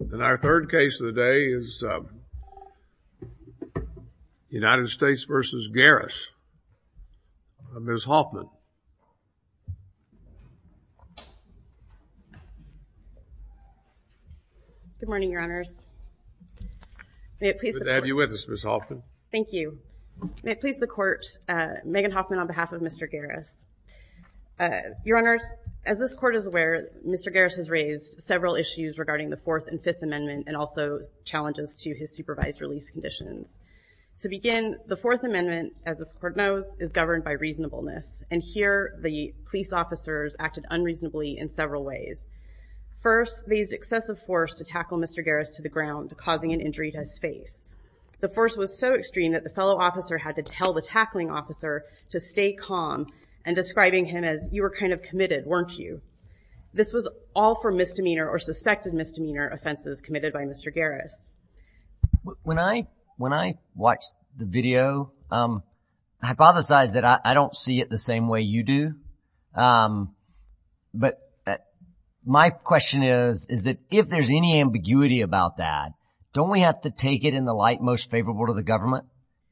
And our third case of the day is United States v. Garris, Ms. Hoffman. Good morning, Your Honors. May it please the Court. Good to have you with us, Ms. Hoffman. Thank you. May it please the Court, Megan Hoffman on behalf of Mr. Garris. Your Honors, as this Court is aware, Mr. Garris has raised several issues regarding the Fourth and Fifth Amendment and also challenges to his supervised release conditions. To begin, the Fourth Amendment, as this Court knows, is governed by reasonableness. And here, the police officers acted unreasonably in several ways. First, they used excessive force to tackle Mr. Garris to the ground, causing an injury to his face. The force was so extreme that the fellow officer had to tell the tackling officer to stay calm and describing him as, you were kind of committed, weren't you? This was all for misdemeanor or suspected misdemeanor offenses committed by Mr. Garris. When I watched the video, I hypothesized that I don't see it the same way you do. But my question is, is that if there's any ambiguity about that, don't we have to take it in the light most favorable to the government,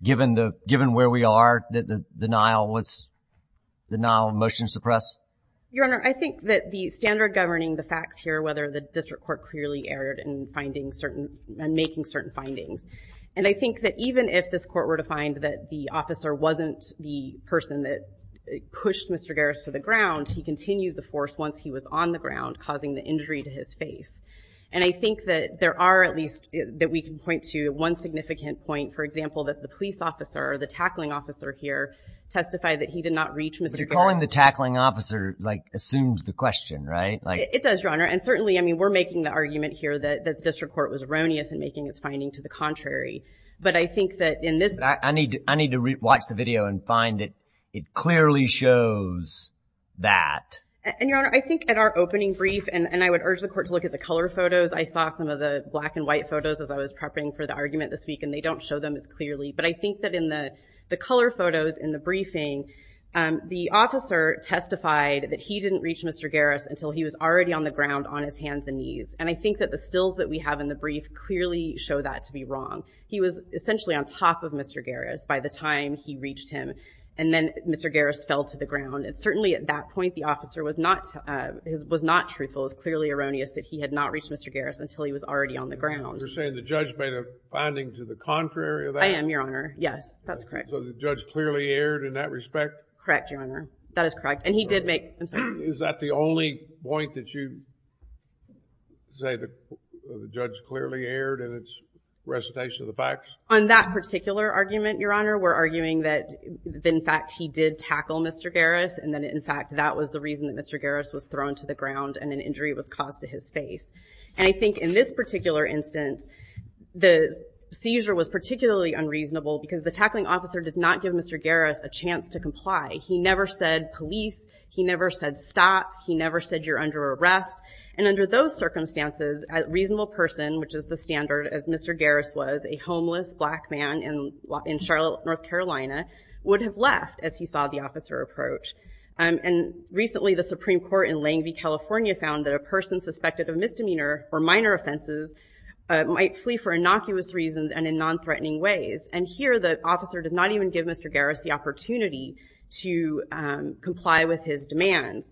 given where we are, the denial of motion to suppress? Your Honor, I think that the standard governing the facts here, whether the district court clearly erred in making certain findings, and I think that even if this Court were to find that the officer wasn't the person that pushed Mr. Garris to the ground, he continued the force once he was on the ground, causing the injury to his face. And I think that there are at least, that we can point to one significant point, for example, that the police officer, the tackling officer here, testified that he did not reach Mr. Garris. But you're calling the tackling officer, like, assumes the question, right? It does, Your Honor. And certainly, I mean, we're making the argument here that the district court was erroneous in making its finding to the contrary. But I think that in this… I need to watch the video and find that it clearly shows that. And, Your Honor, I think at our opening brief, and I would urge the Court to look at the color photos. I saw some of the black and white photos as I was prepping for the argument this week, and they don't show them as clearly. But I think that in the color photos in the briefing, the officer testified that he didn't reach Mr. Garris until he was already on the ground on his hands and knees. And I think that the stills that we have in the brief clearly show that to be wrong. He was essentially on top of Mr. Garris by the time he reached him. And then Mr. Garris fell to the ground. And certainly at that point, the officer was not truthful. It was clearly erroneous that he had not reached Mr. Garris until he was already on the ground. You're saying the judge made a finding to the contrary of that? I am, Your Honor. Yes, that's correct. So the judge clearly erred in that respect? Correct, Your Honor. That is correct. And he did make… Is that the only point that you say the judge clearly erred in its recitation of the facts? On that particular argument, Your Honor, we're arguing that, in fact, he did tackle Mr. Garris. And that, in fact, that was the reason that Mr. Garris was thrown to the ground and an injury was caused to his face. And I think in this particular instance, the seizure was particularly unreasonable because the tackling officer did not give Mr. Garris a chance to comply. He never said, police. He never said, stop. He never said, you're under arrest. And under those circumstances, a reasonable person, which is the standard as Mr. Garris was, a homeless black man in Charlotte, North Carolina, would have left as he saw the officer approach. And recently, the Supreme Court in Langvey, California, found that a person suspected of misdemeanor for minor offenses might flee for innocuous reasons and in non-threatening ways. And here, the officer did not even give Mr. Garris the opportunity to comply with his demands.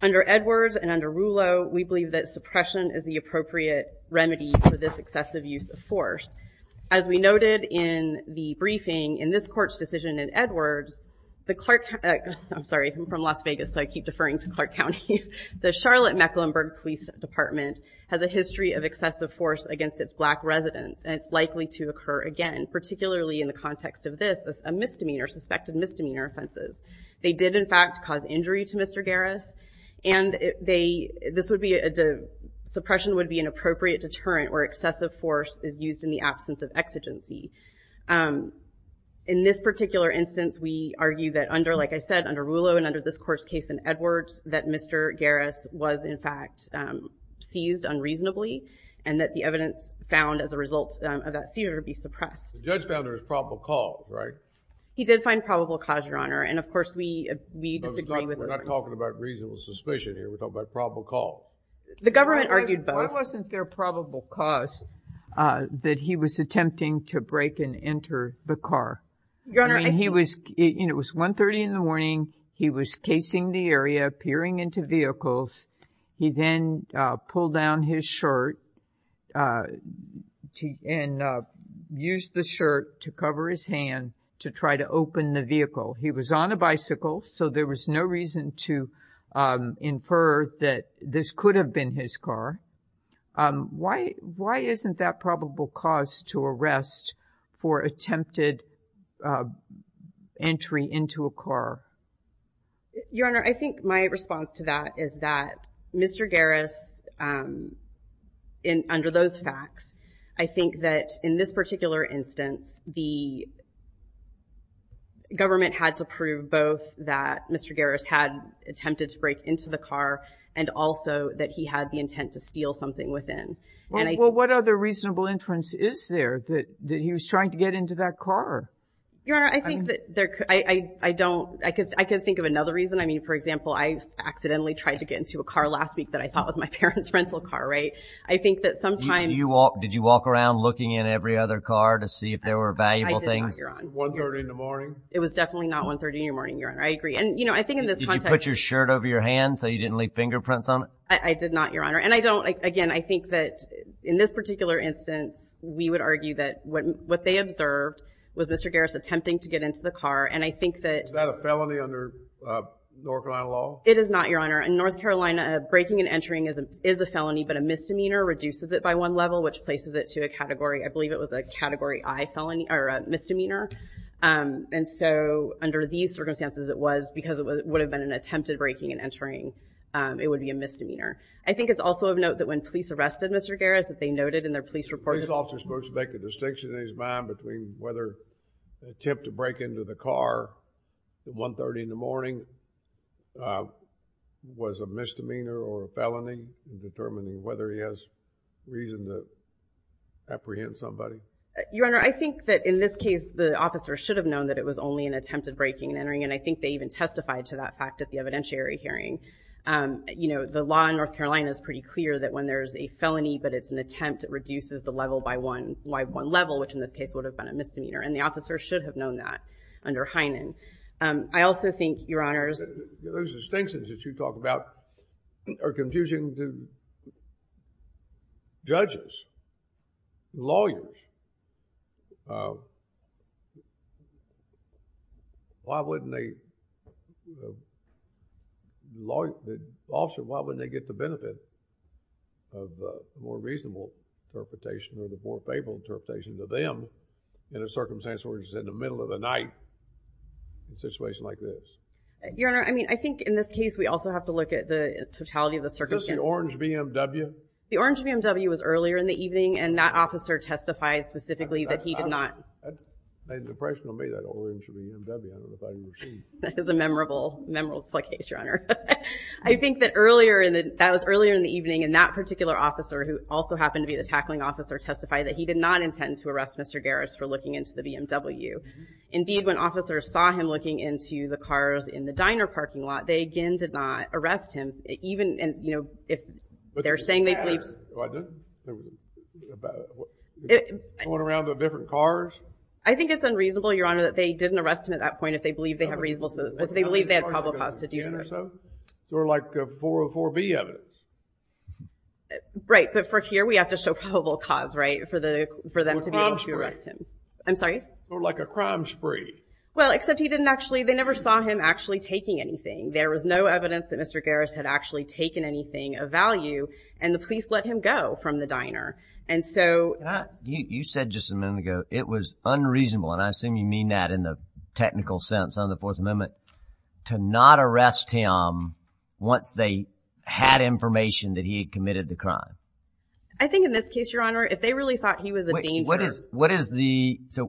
Under Edwards and under Rulo, we believe that suppression is the appropriate remedy for this excessive use of force. As we noted in the briefing, in this court's decision in Edwards, the Clark, I'm sorry. I'm from Las Vegas, so I keep deferring to Clark County. The Charlotte Mecklenburg Police Department has a history of excessive force against its black residents. And it's likely to occur again, particularly in the context of this, a misdemeanor, suspected misdemeanor offenses. They did, in fact, cause injury to Mr. Garris. And this suppression would be an appropriate deterrent where excessive force is used in the absence of exigency. In this particular instance, we argue that under, like I said, under Rulo and under this court's case in Edwards, that Mr. Garris was, in fact, seized unreasonably and that the evidence found as a result of that seizure would be suppressed. The judge found there was probable cause, right? He did find probable cause, Your Honor. And, of course, we disagree with those arguments. We're not talking about reasonable suspicion here. We're talking about probable cause. The government argued both. Why wasn't there probable cause that he was attempting to break and enter the car? Your Honor, I think— I mean, he was—and it was 1.30 in the morning. He was casing the area, peering into vehicles. He then pulled down his shirt and used the shirt to cover his hand to try to open the vehicle. He was on a bicycle, so there was no reason to infer that this could have been his car. Why isn't that probable cause to arrest for attempted entry into a car? Your Honor, I think my response to that is that Mr. Garris, under those facts, I think that in this particular instance, the government had to prove both that Mr. Garris had attempted to break into the car and also that he had the intent to steal something within. Well, what other reasonable inference is there that he was trying to get into that car? Your Honor, I think that there—I don't—I could think of another reason. I mean, for example, I accidentally tried to get into a car last week that I thought was my parents' rental car, right? I think that sometimes— Did you walk around looking in every other car to see if there were valuable things? I did not, Your Honor. 1.30 in the morning? It was definitely not 1.30 in the morning, Your Honor. I agree. And, you know, I think in this context— Did you put your shirt over your hand so you didn't leave fingerprints on it? I did not, Your Honor. And I don't—again, I think that in this particular instance, we would argue that what they observed was Mr. Garris attempting to get into the car, and I think that— Is that a felony under North Carolina law? It is not, Your Honor. In North Carolina, breaking and entering is a felony, but a misdemeanor reduces it by one level, which places it to a category—I believe it was a Category I felony—or a misdemeanor. And so under these circumstances, it was, because it would have been an attempted breaking and entering, it would be a misdemeanor. I think it's also of note that when police arrested Mr. Garris, that they noted in their police report— Was the police officer supposed to make a distinction in his mind between whether the attempt to break into the car at 1.30 in the morning was a misdemeanor or a felony in determining whether he has reason to apprehend somebody? Your Honor, I think that in this case, the officer should have known that it was only an attempted breaking and entering, and I think they even testified to that fact at the evidentiary hearing. You know, the law in North Carolina is pretty clear that when there's a felony but it's an attempt, it reduces the level by one level, which in this case would have been a misdemeanor, and the officer should have known that under Heinen. I also think, Your Honors— Those distinctions that you talk about are confusing to judges, lawyers. Why wouldn't they, you know, the officer, why wouldn't they get the benefit of a more reasonable interpretation or the more favorable interpretation to them in a circumstance where he's in the middle of the night in a situation like this? Your Honor, I mean, I think in this case, we also have to look at the totality of the circumstance. The orange BMW was earlier in the evening, and that officer testified specifically that he did not— I had an impression of me, that orange BMW. I don't know if I even seen it. That is a memorable, memorable case, Your Honor. I think that earlier in the, that was earlier in the evening, and that particular officer, who also happened to be the tackling officer, testified that he did not intend to arrest Mr. Garris for looking into the BMW. Indeed, when officers saw him looking into the cars in the diner parking lot, they again did not arrest him. Even, you know, if they're saying they believed— Going around the different cars? I think it's unreasonable, Your Honor, that they didn't arrest him at that point if they believe they have reasonable— if they believe they had probable cause to do so. Sort of like 404B evidence. Right, but for here, we have to show probable cause, right, for them to be able to arrest him. I'm sorry? Sort of like a crime spree. Well, except he didn't actually, they never saw him actually taking anything. There was no evidence that Mr. Garris had actually taken anything of value, and the police let him go from the diner. And so— You said just a moment ago, it was unreasonable, and I assume you mean that in the technical sense on the Fourth Amendment, to not arrest him once they had information that he had committed the crime. I think in this case, Your Honor, if they really thought he was a danger— What is the—so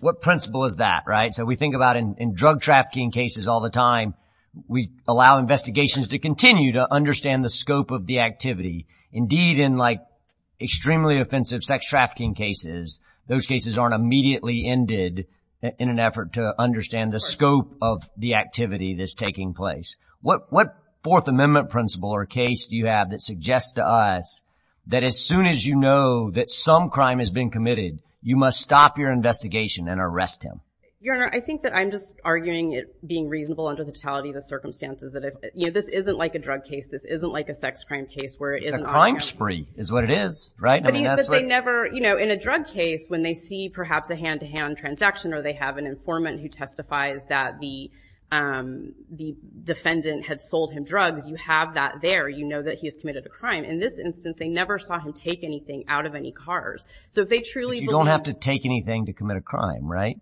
what principle is that, right? So we think about in drug trafficking cases all the time, we allow investigations to continue to understand the scope of the activity. Indeed, in like extremely offensive sex trafficking cases, those cases aren't immediately ended in an effort to understand the scope of the activity that's taking place. What Fourth Amendment principle or case do you have that suggests to us that as soon as you know that some crime has been committed, you must stop your investigation and arrest him? Your Honor, I think that I'm just arguing it being reasonable under the totality of the circumstances. This isn't like a drug case. This isn't like a sex crime case where it isn't— It's a crime spree is what it is, right? But they never—in a drug case, when they see perhaps a hand-to-hand transaction or they have an informant who testifies that the defendant had sold him drugs, you have that there. You know that he has committed a crime. In this instance, they never saw him take anything out of any cars. So if they truly believe— They don't have to take anything to commit a crime, right?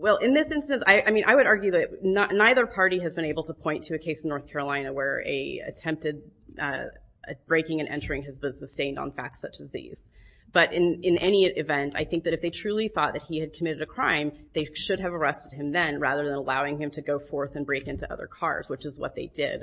Well, in this instance, I mean, I would argue that neither party has been able to point to a case in North Carolina where a attempted breaking and entering has been sustained on facts such as these. But in any event, I think that if they truly thought that he had committed a crime, they should have arrested him then rather than allowing him to go forth and break into other cars, which is what they did.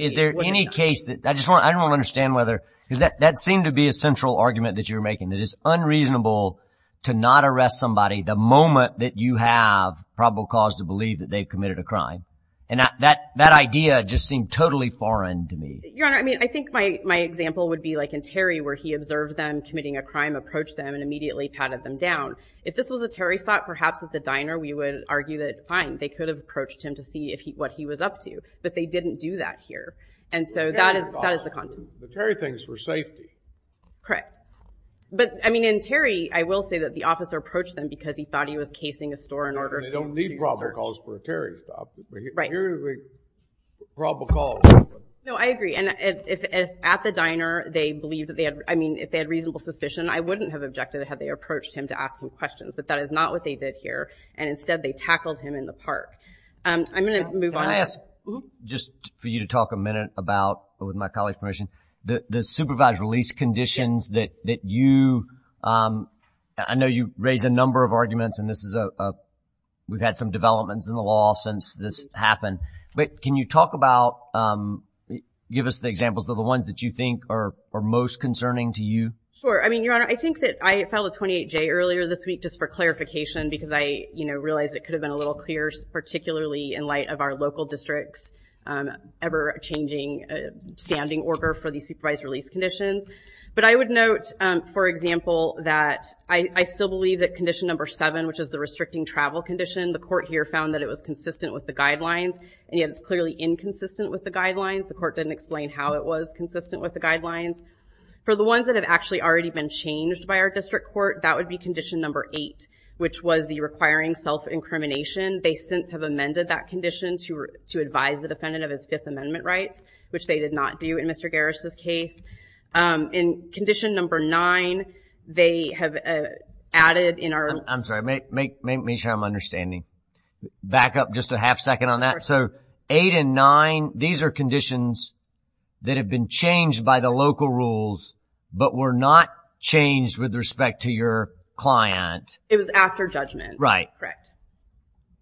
Is there any case that—I just want—I don't understand whether— That seemed to be a central argument that you're making, that it's unreasonable to not arrest somebody the moment that you have probable cause to believe that they've committed a crime. And that idea just seemed totally foreign to me. Your Honor, I mean, I think my example would be like in Terry, where he observed them committing a crime, approached them, and immediately patted them down. If this was a Terry stop, perhaps at the diner, we would argue that, fine, they could have approached him to see what he was up to. But they didn't do that here. And so that is the content. But Terry thinks for safety. Correct. But, I mean, in Terry, I will say that the officer approached them because he thought he was casing a store in order for him to do research. They don't need probable cause for a Terry stop. Right. Here is a probable cause. No, I agree. And if at the diner they believed that they had—I mean, if they had reasonable suspicion, I wouldn't have objected had they approached him to ask him questions. But that is not what they did here. And instead, they tackled him in the park. I'm going to move on. Can I ask just for you to talk a minute about, with my colleague's permission, the supervised release conditions that you—I know you raise a number of arguments, and this is a—we've had some developments in the law since this happened. But can you talk about—give us the examples of the ones that you think are most concerning to you? Sure. I mean, Your Honor, I think that I filed a 28-J earlier this week just for clarification because I, you know, realized it could have been a little clearer, particularly in light of our local district's ever-changing standing order for these supervised release conditions. But I would note, for example, that I still believe that condition number seven, which is the restricting travel condition, the court here found that it was consistent with the guidelines, and yet it's clearly inconsistent with the guidelines. The court didn't explain how it was consistent with the guidelines. For the ones that have actually already been changed by our district court, that would be condition number eight, which was the requiring self-incrimination. They since have amended that condition to advise the defendant of his Fifth Amendment rights, which they did not do in Mr. Garris' case. In condition number nine, they have added in our— I'm sorry. Make sure I'm understanding. Back up just a half-second on that. So eight and nine, these are conditions that have been changed by the local rules but were not changed with respect to your client. It was after judgment. Right. Correct.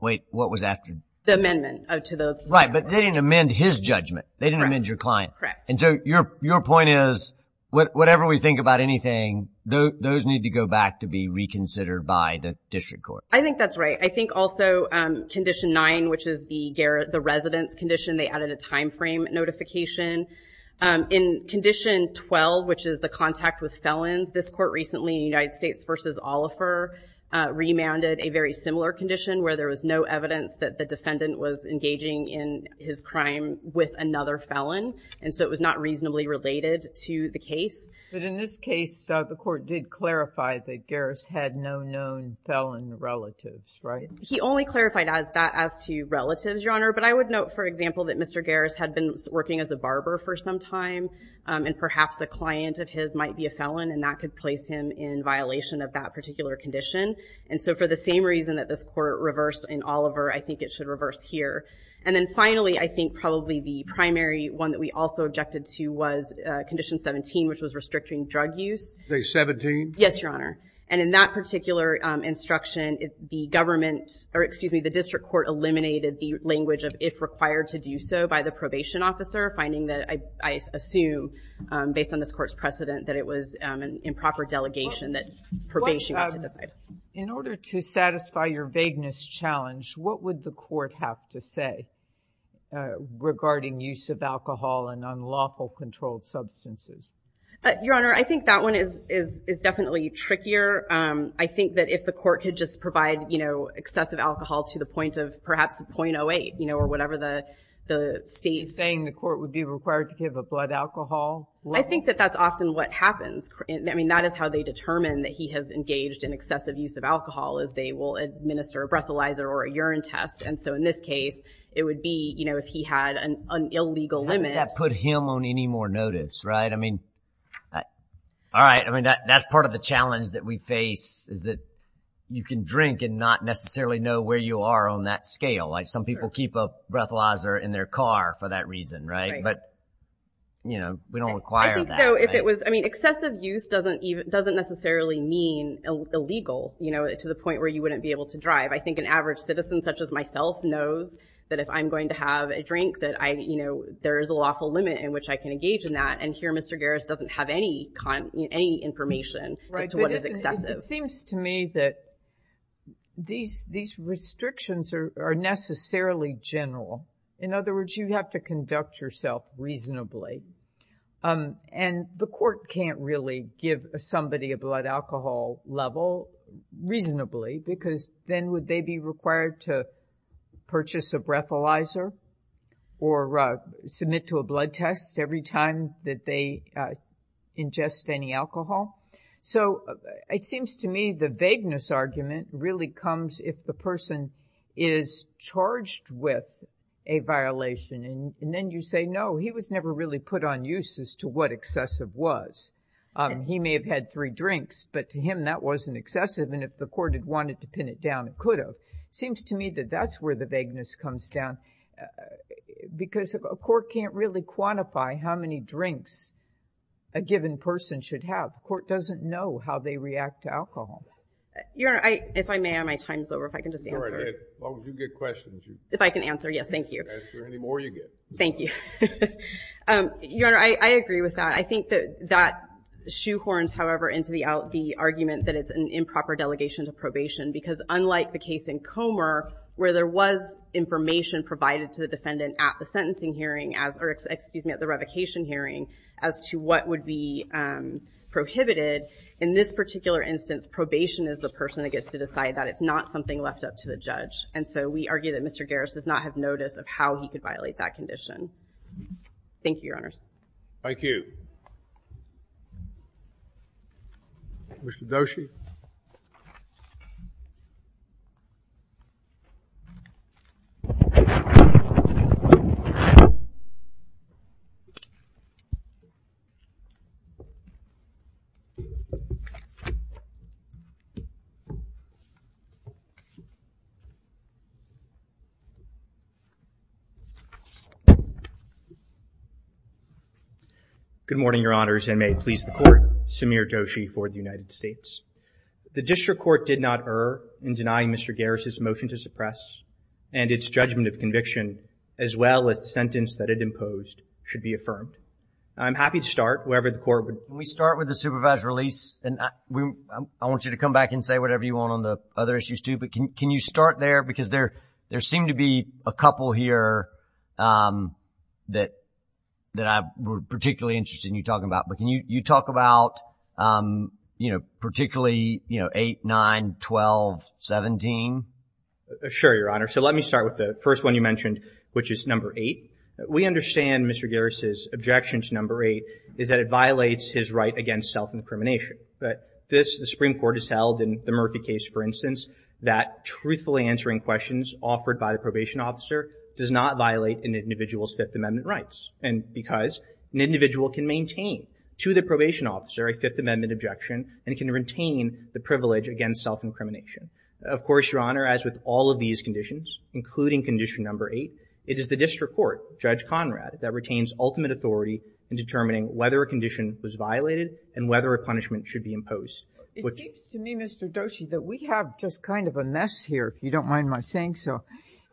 Wait, what was after? The amendment to those. Right, but they didn't amend his judgment. They didn't amend your client. Correct. And so your point is, whatever we think about anything, those need to go back to be reconsidered by the district court. I think that's right. I think also condition nine, which is the residence condition, they added a timeframe notification. In condition 12, which is the contact with felons, this court recently, United States v. Oliver, remanded a very similar condition where there was no evidence that the defendant was engaging in his crime with another felon, and so it was not reasonably related to the case. But in this case, the court did clarify that Garris had no known felon relatives, right? He only clarified that as to relatives, Your Honor, but I would note, for example, that Mr. Garris had been working as a barber for some time, and perhaps a client of his might be a felon, and that could place him in violation of that particular condition. And so for the same reason that this court reversed in Oliver, I think it should reverse here. And then finally, I think probably the primary one that we also objected to was condition 17, which was restricting drug use. Say 17? Yes, Your Honor. And in that particular instruction, the government, or excuse me, the district court eliminated the language of if required to do so by the probation officer, finding that I assume, based on this court's precedent, that it was an improper delegation that probation went to this guy. In order to satisfy your vagueness challenge, what would the court have to say regarding use of alcohol and unlawful controlled substances? Your Honor, I think that one is definitely trickier. I think that if the court could just provide, you know, excessive alcohol to the point of perhaps .08, you know, or whatever the state. You're saying the court would be required to give a blood alcohol? I think that that's often what happens. I mean, that is how they determine that he has engaged in excessive use of alcohol, is they will administer a breathalyzer or a urine test. And so in this case, it would be, you know, if he had an illegal limit. How does that put him on any more notice, right? I mean, all right. I mean, that's part of the challenge that we face is that you can drink and not necessarily know where you are on that scale. Like some people keep a breathalyzer in their car for that reason, right? But, you know, we don't require that. I think so. I mean, excessive use doesn't necessarily mean illegal, you know, to the point where you wouldn't be able to drive. I think an average citizen such as myself knows that if I'm going to have a drink, that I, you know, there is a lawful limit in which I can engage in that. And here Mr. Garris doesn't have any information as to what is excessive. It seems to me that these restrictions are necessarily general. In other words, you have to conduct yourself reasonably. And the court can't really give somebody a blood alcohol level reasonably because then would they be required to purchase a breathalyzer or submit to a blood test every time that they ingest any alcohol? So it seems to me the vagueness argument really comes if the person is charged with a violation. And then you say, no, he was never really put on use as to what excessive was. He may have had three drinks, but to him that wasn't excessive. And if the court had wanted to pin it down, it could have. It seems to me that that's where the vagueness comes down because a court can't really quantify how many drinks a given person should have. The court doesn't know how they react to alcohol. Your Honor, if I may, my time is over. If I can just answer. No, you get questions. If I can answer, yes. Thank you. Any more you get. Thank you. Your Honor, I agree with that. I think that that shoehorns, however, into the argument that it's an improper delegation to probation because unlike the case in Comer where there was information provided to the defendant at the sentencing hearing as, or excuse me, at the revocation hearing as to what would be prohibited, in this particular instance probation is the person that gets to decide that it's not something left up to the judge. And so we argue that Mr. Garris does not have notice of how he could violate that condition. Thank you, Your Honor. Thank you. Mr. Doshi. Mr. Doshi. Good morning, Your Honors. And may it please the Court, Samir Doshi for the United States. The District Court did not err in denying Mr. Garris' motion to suppress and its judgment of conviction as well as the sentence that it imposed should be affirmed. I'm happy to start wherever the Court would. Can we start with the supervised release? I want you to come back and say whatever you want on the other issues too, but can you start there because there seem to be a couple here that I'm particularly interested in you talking about. But can you talk about, you know, particularly, you know, 8, 9, 12, 17? Sure, Your Honor. So let me start with the first one you mentioned, which is number 8. We understand Mr. Garris' objection to number 8 is that it violates his right against self-incrimination. But this, the Supreme Court has held in the Murphy case, for instance, that truthfully answering questions offered by the probation officer does not violate an individual's Fifth Amendment rights because an individual can maintain to the probation officer a Fifth Amendment objection and can retain the privilege against self-incrimination. Of course, Your Honor, as with all of these conditions, including condition number 8, it is the District Court, Judge Conrad, that retains ultimate authority in determining whether a condition was violated and whether a punishment should be imposed. It seems to me, Mr. Doshi, that we have just kind of a mess here, if you don't mind my saying so,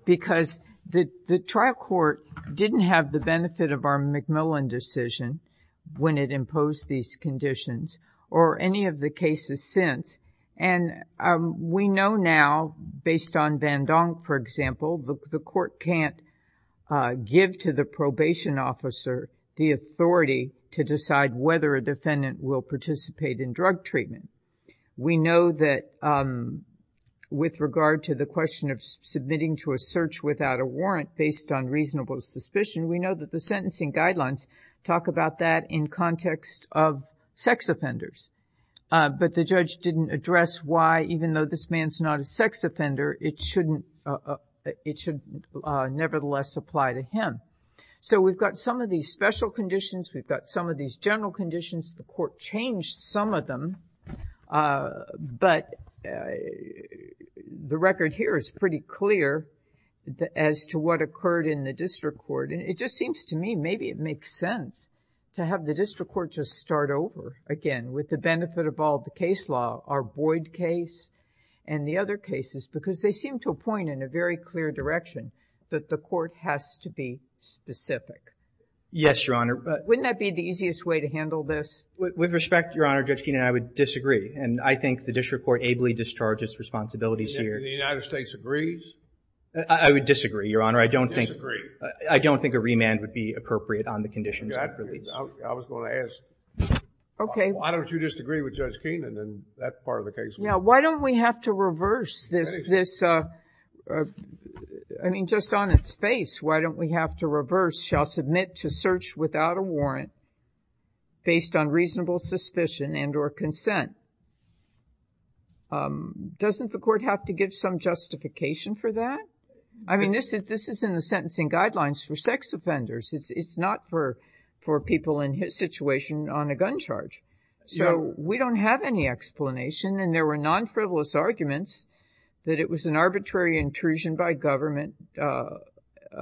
because the trial court didn't have the benefit of our McMillan decision when it imposed these conditions or any of the cases since. And we know now, based on Van Dong, for example, the court can't give to the probation officer the authority to decide whether a defendant will participate in drug treatment. We know that with regard to the question of submitting to a search without a warrant based on reasonable suspicion, we know that the sentencing guidelines talk about that in context of sex offenders. But the judge didn't address why, even though this man's not a sex offender, it should nevertheless apply to him. So we've got some of these special conditions. We've got some of these general conditions. The court changed some of them, but the record here is pretty clear as to what occurred in the district court. And it just seems to me maybe it makes sense to have the district court just start over again with the benefit of all the case law, our Boyd case and the other cases, because they seem to point in a very clear direction that the court has to be specific. Yes, Your Honor. Wouldn't that be the easiest way to handle this? With respect, Your Honor, Judge Keenan, I would disagree. And I think the district court ably discharges responsibilities here. The United States agrees? I would disagree, Your Honor. I don't think a remand would be appropriate on the conditions. I was going to ask, why don't you just agree with Judge Keenan, and that's part of the case. Why don't we have to reverse this? I mean, just on its face, why don't we have to reverse this shall submit to search without a warrant based on reasonable suspicion and or consent? Doesn't the court have to give some justification for that? I mean, this is in the sentencing guidelines for sex offenders. It's not for people in his situation on a gun charge. So we don't have any explanation, and there were non-frivolous arguments that it was an arbitrary intrusion by government,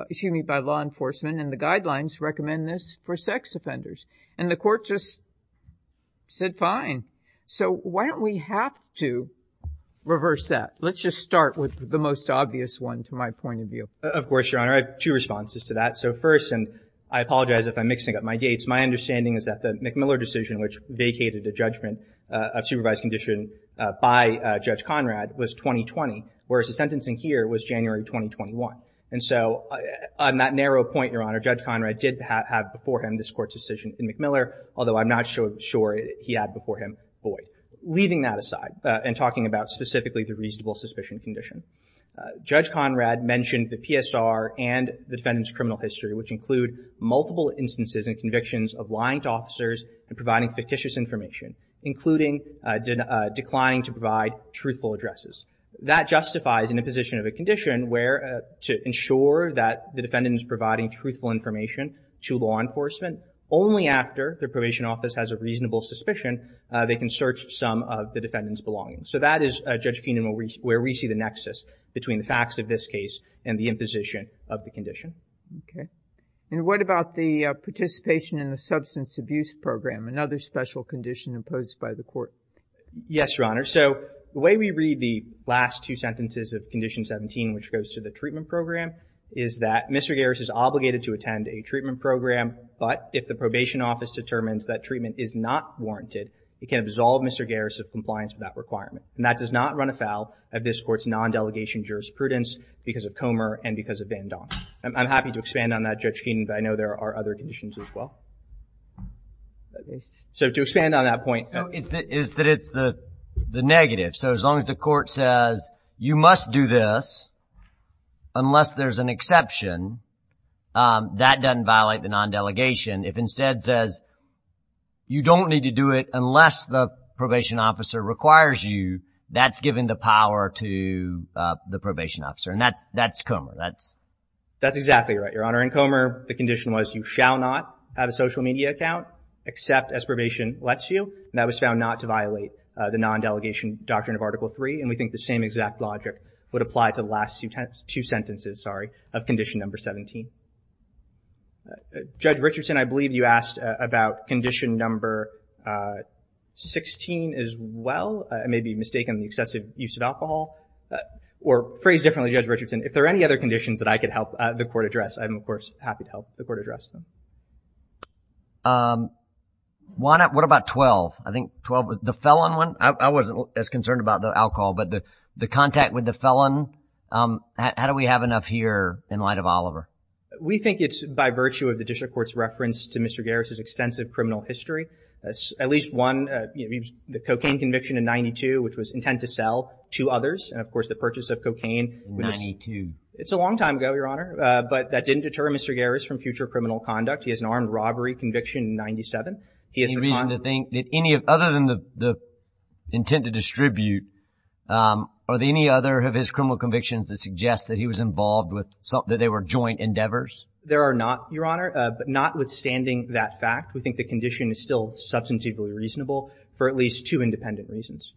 excuse me, by law enforcement. And the guidelines recommend this for sex offenders. And the court just said, fine. So why don't we have to reverse that? Let's just start with the most obvious one, to my point of view. Of course, Your Honor. I have two responses to that. So first, and I apologize if I'm mixing up my dates, my understanding is that the McMiller decision, which vacated the judgment of supervised condition by Judge Conrad, was 2020, whereas the sentencing here was January 2021. And so on that narrow point, Your Honor, Judge Conrad did have before him this court's decision in McMiller, although I'm not sure he had before him Boyd. Leaving that aside, and talking about specifically the reasonable suspicion condition, Judge Conrad mentioned the PSR and the defendant's criminal history, which include multiple instances and convictions of lying to officers and providing fictitious information, including declining to provide truthful addresses. That justifies an imposition of a condition where, to ensure that the defendant is providing truthful information to law enforcement, only after the probation office has a reasonable suspicion, they can search some of the defendant's belongings. So that is, Judge Keenan, where we see the nexus between the facts of this case and the imposition of the condition. Okay. And what about the participation in the substance abuse program, another special condition imposed by the court? Yes, Your Honor. So the way we read the last two sentences of Condition 17, which goes to the treatment program, is that Mr. Garris is obligated to attend a treatment program, but if the probation office determines that treatment is not warranted, it can absolve Mr. Garris of compliance with that requirement. And that does not run afoul of this court's non-delegation jurisprudence because of Comer and because of Van Don. I'm happy to expand on that, Judge Keenan, but I know there are other conditions as well. So to expand on that point. No, it's that it's the negative. So as long as the court says, you must do this unless there's an exception, that doesn't violate the non-delegation. If instead it says, you don't need to do it unless the probation officer requires you, that's giving the power to the probation officer. And that's Comer. That's exactly right, Your Honor. In Comer, the condition was you shall not have a social media account except as probation lets you. And that was found not to violate the non-delegation doctrine of Article 3. And we think the same exact logic would apply to the last two sentences, sorry, of Condition Number 17. Judge Richardson, I believe you asked about Condition Number 16 as well. It may be mistakenly excessive use of alcohol. Or phrased differently, Judge Richardson, if there are any other conditions that I could help the court address, I'm, of course, happy to help the court address them. Why not, what about 12? I think 12, the felon one, I wasn't as concerned about the alcohol, but the contact with the felon, how do we have enough here in light of Oliver? We think it's by virtue of the District Court's reference to Mr. Garris' extensive criminal history. At least one, the cocaine conviction in 92, which was intent to sell to others, and of course the purchase of cocaine. 92. It's a long time ago, Your Honor. But that didn't deter Mr. Garris from future criminal conduct. He has an armed robbery conviction in 97. Any reason to think that any other than the intent to distribute, are there any other of his criminal convictions that suggest that he was involved with, that they were joint endeavors? There are not, Your Honor, but notwithstanding that fact, we think the condition is still substantively reasonable for at least two independent reasons.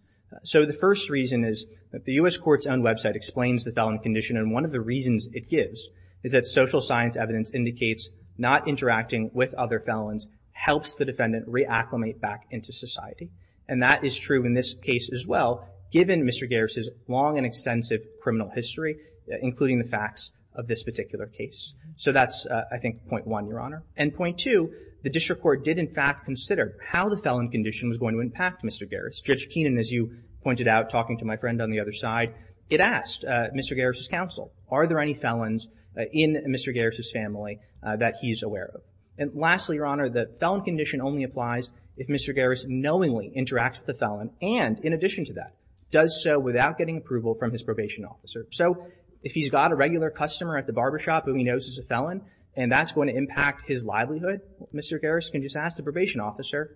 So the first reason is that the U.S. Court's own website explains the felon condition, and one of the reasons it gives is that social science evidence indicates not interacting with other felons helps the defendant reacclimate back into society. And that is true in this case as well, given Mr. Garris' long and extensive criminal history, including the facts of this particular case. So that's, I think, point one, Your Honor. And point two, the District Court did in fact consider how the felon condition was going to impact Mr. Garris. Judge Keenan, as you pointed out, talking to my friend on the other side, it asked Mr. Garris' counsel, are there any felons in Mr. Garris' family that he's aware of? And lastly, Your Honor, the felon condition only applies if Mr. Garris knowingly interacts with the felon, and in addition to that, does so without getting approval from his probation officer. So if he's got a regular customer at the barbershop whom he knows is a felon, and that's going to impact his livelihood, Mr. Garris can just ask the probation officer,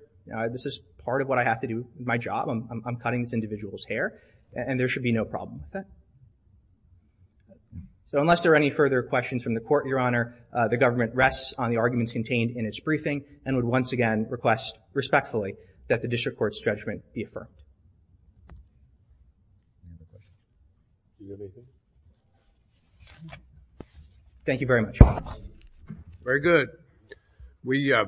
this is part of what I have to do with my job, I'm cutting this individual's hair, and there should be no problem with that. So unless there are any further questions from the Court, Your Honor, the government rests on the arguments contained in its briefing and would once again request respectfully that the District Court's judgment be affirmed. Thank you very much, Your Honor. Very good. We, uh...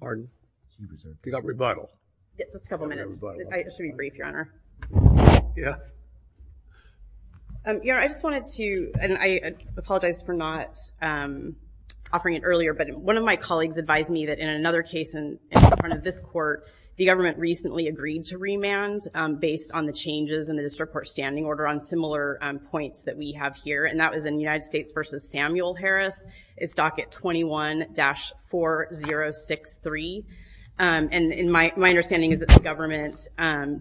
Pardon? You got rebuttal. Just a couple minutes. I should be brief, Your Honor. Yeah. Your Honor, I just wanted to, and I apologize for not offering it earlier, but one of my colleagues advised me that in another case in front of this Court, the government recently agreed to remand based on the changes in the District Court's standing order on similar points that we have here, and that was in United States v. Samuel Harris. It's docket 21-4063, and my understanding is that the government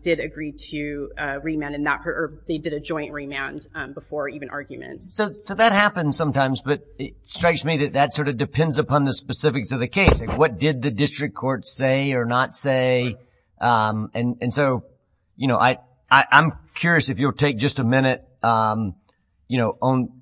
did agree to remand, or they did a joint remand before even argument. So that happens sometimes, but it strikes me that that sort of depends upon the specifics of the case. What did the District Court say or not say? And so, you know, I'm curious if you'll take just a minute,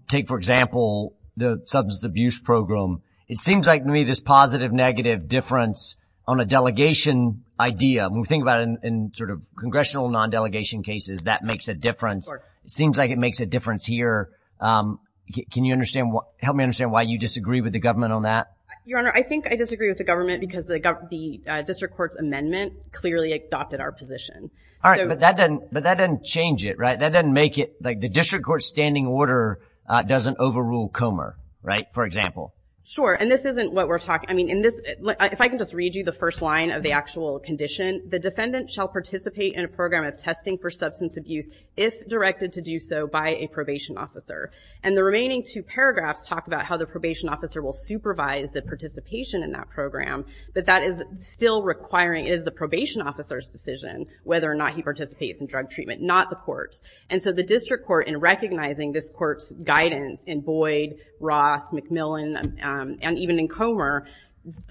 take, for example, the substance abuse program. It seems like to me this positive-negative difference on a delegation idea. When we think about it in sort of congressional non-delegation cases, that makes a difference. It seems like it makes a difference here. Can you help me understand why you disagree with the government on that? Your Honor, I think I disagree with the government because the District Court's amendment clearly adopted our position. All right, but that doesn't change it, right? That doesn't make it, like, the District Court's standing order doesn't overrule Comer, right? For example. Sure, and this isn't what we're talking, I mean, in this, if I can just read you the first line of the actual condition, the defendant shall participate in a program of testing for substance abuse if directed to do so by a probation officer. And the remaining two paragraphs talk about how the probation officer will supervise the participation in that program, but that is still requiring, it is the probation officer's decision whether or not he participates in drug treatment, not the court's. And so the District Court, in recognizing this court's guidance in Boyd, Ross, McMillan, and even in Comer,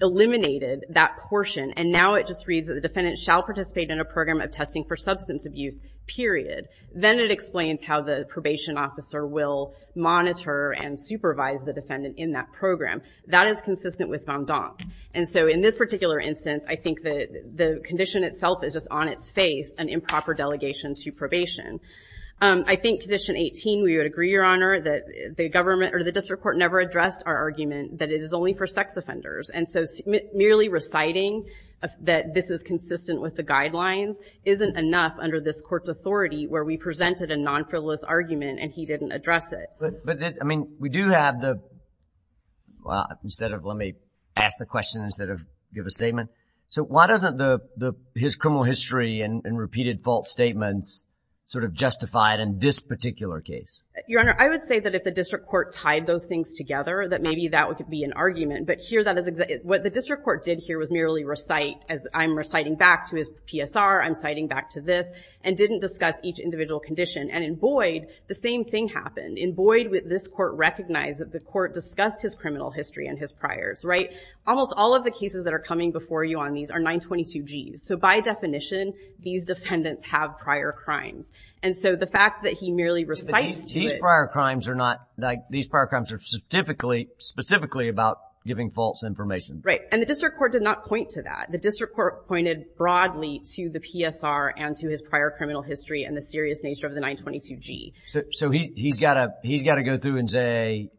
eliminated that portion, and now it just reads that the defendant shall participate in a program of testing for substance abuse, period. Then it explains how the probation officer will monitor and supervise the defendant in that program. That is consistent with Van Damme. And so in this particular instance, I think that the condition itself is just on its face, an improper delegation to probation. I think Condition 18, we would agree, Your Honor, that the government, or the District Court, never addressed our argument that it is only for sex offenders. And so merely reciting that this is consistent with the guidelines isn't enough under this court's authority where we presented a non-frivolous argument and he didn't address it. But, I mean, we do have the, instead of, let me ask the question instead of give a statement. So why doesn't the, his criminal history and repeated false statements sort of justify it in this particular case? Your Honor, I would say that if the District Court tied those things together, that maybe that would be an argument. But here, what the District Court did here was merely recite, as I'm reciting back to his PSR, I'm citing back to this, and didn't discuss each individual condition. And in Boyd, the same thing happened. In Boyd, this court recognized that the court discussed his criminal history and his priors, right? Almost all of the cases that are coming before you on these are 922Gs. So by definition, these defendants have prior crimes. And so the fact that he merely recites to it. These prior crimes are not, these prior crimes are specifically, specifically about giving false information. Right. And the District Court did not point to that. The District Court pointed broadly to the PSR and to his prior criminal history and the serious nature of the 922G. So he's got to go through and say,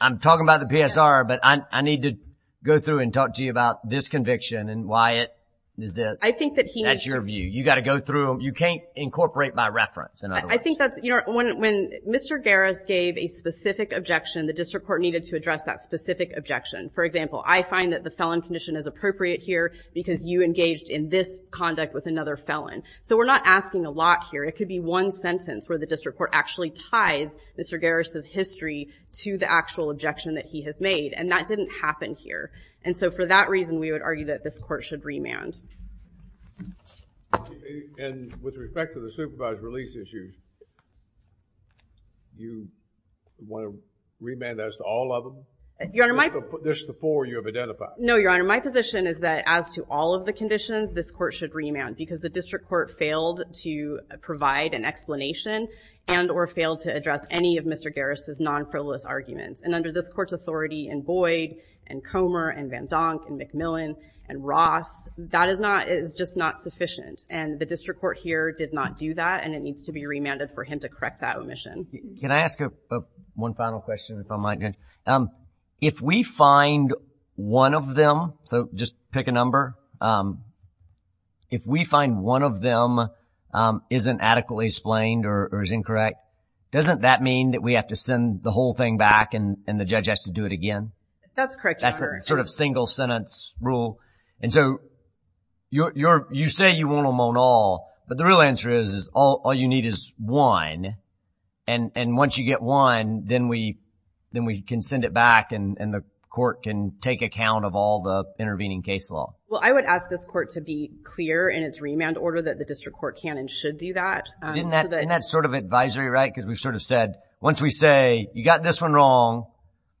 I'm talking about the PSR, but I need to go through and talk to you about this conviction and why it is this. I think that he needs to. That's your view. You got to go through them. You can't incorporate by reference. I think that's, you know, when Mr. Garris gave a specific objection, the District Court needed to address that specific objection. For example, I find that the felon condition is appropriate here because you engaged in this conduct with another felon. So we're not asking a lot here. It could be one sentence where the District Court actually ties Mr. Garris' history to the actual objection that he has made. And that didn't happen here. And so for that reason, we would argue that this court should remand. And with respect to the supervised release issue, do you want to remand as to all of them? Your Honor, my... Just the four you have identified. No, Your Honor. My position is that as to all of the conditions, this court should remand because the District Court failed to provide an explanation and or failed to address any of Mr. Garris' non-frivolous arguments. And under this court's authority in Boyd and Comer and Van Donk and McMillan and Ross, that is not... It is just not sufficient. And the District Court here did not do that and it needs to be remanded for him to correct that omission. Can I ask one final question if I might, Judge? If we find one of them... So just pick a number. If we find one of them isn't adequately explained or is incorrect, doesn't that mean that we have to send the whole thing back and the judge has to do it again? That's correct, Your Honor. That's the sort of single-sentence rule. And so you say you want them on all, but the real answer is all you need is one. And once you get one, then we can send it back and the court can take account of all the intervening case law. Well, I would ask this court to be clear in its remand order that the District Court can and should do that. Isn't that sort of advisory, right? Because we've sort of said, once we say, you got this one wrong,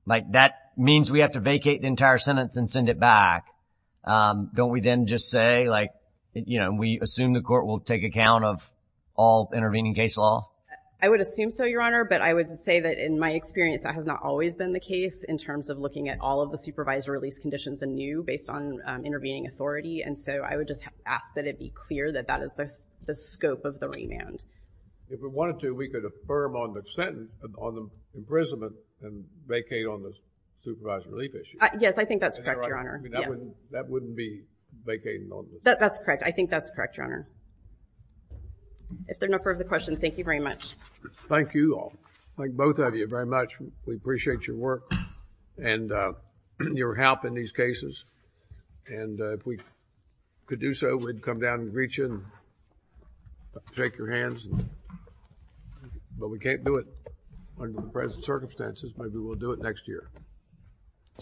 that means we have to vacate the entire sentence and send it back. Don't we then just say, like, you know, we assume the court will take account of all intervening case law? I would assume so, Your Honor, but I would say that in my experience that has not always been the case in terms of looking at all of the supervised release conditions anew based on intervening authority. And so I would just ask that it be clear that that is the scope of the remand. If we wanted to, we could affirm on the sentence, on the imprisonment, and vacate on the supervised relief issue. Yes, I think that's correct, Your Honor. That wouldn't be vacating on the... That's correct. I think that's correct, Your Honor. If there are no further questions, thank you very much. Thank you all. Thank both of you very much. We appreciate your work and your help in these cases. And if we could do so, we'd come down and greet you and shake your hands. But we can't do it under the present circumstances. Maybe we'll do it next year.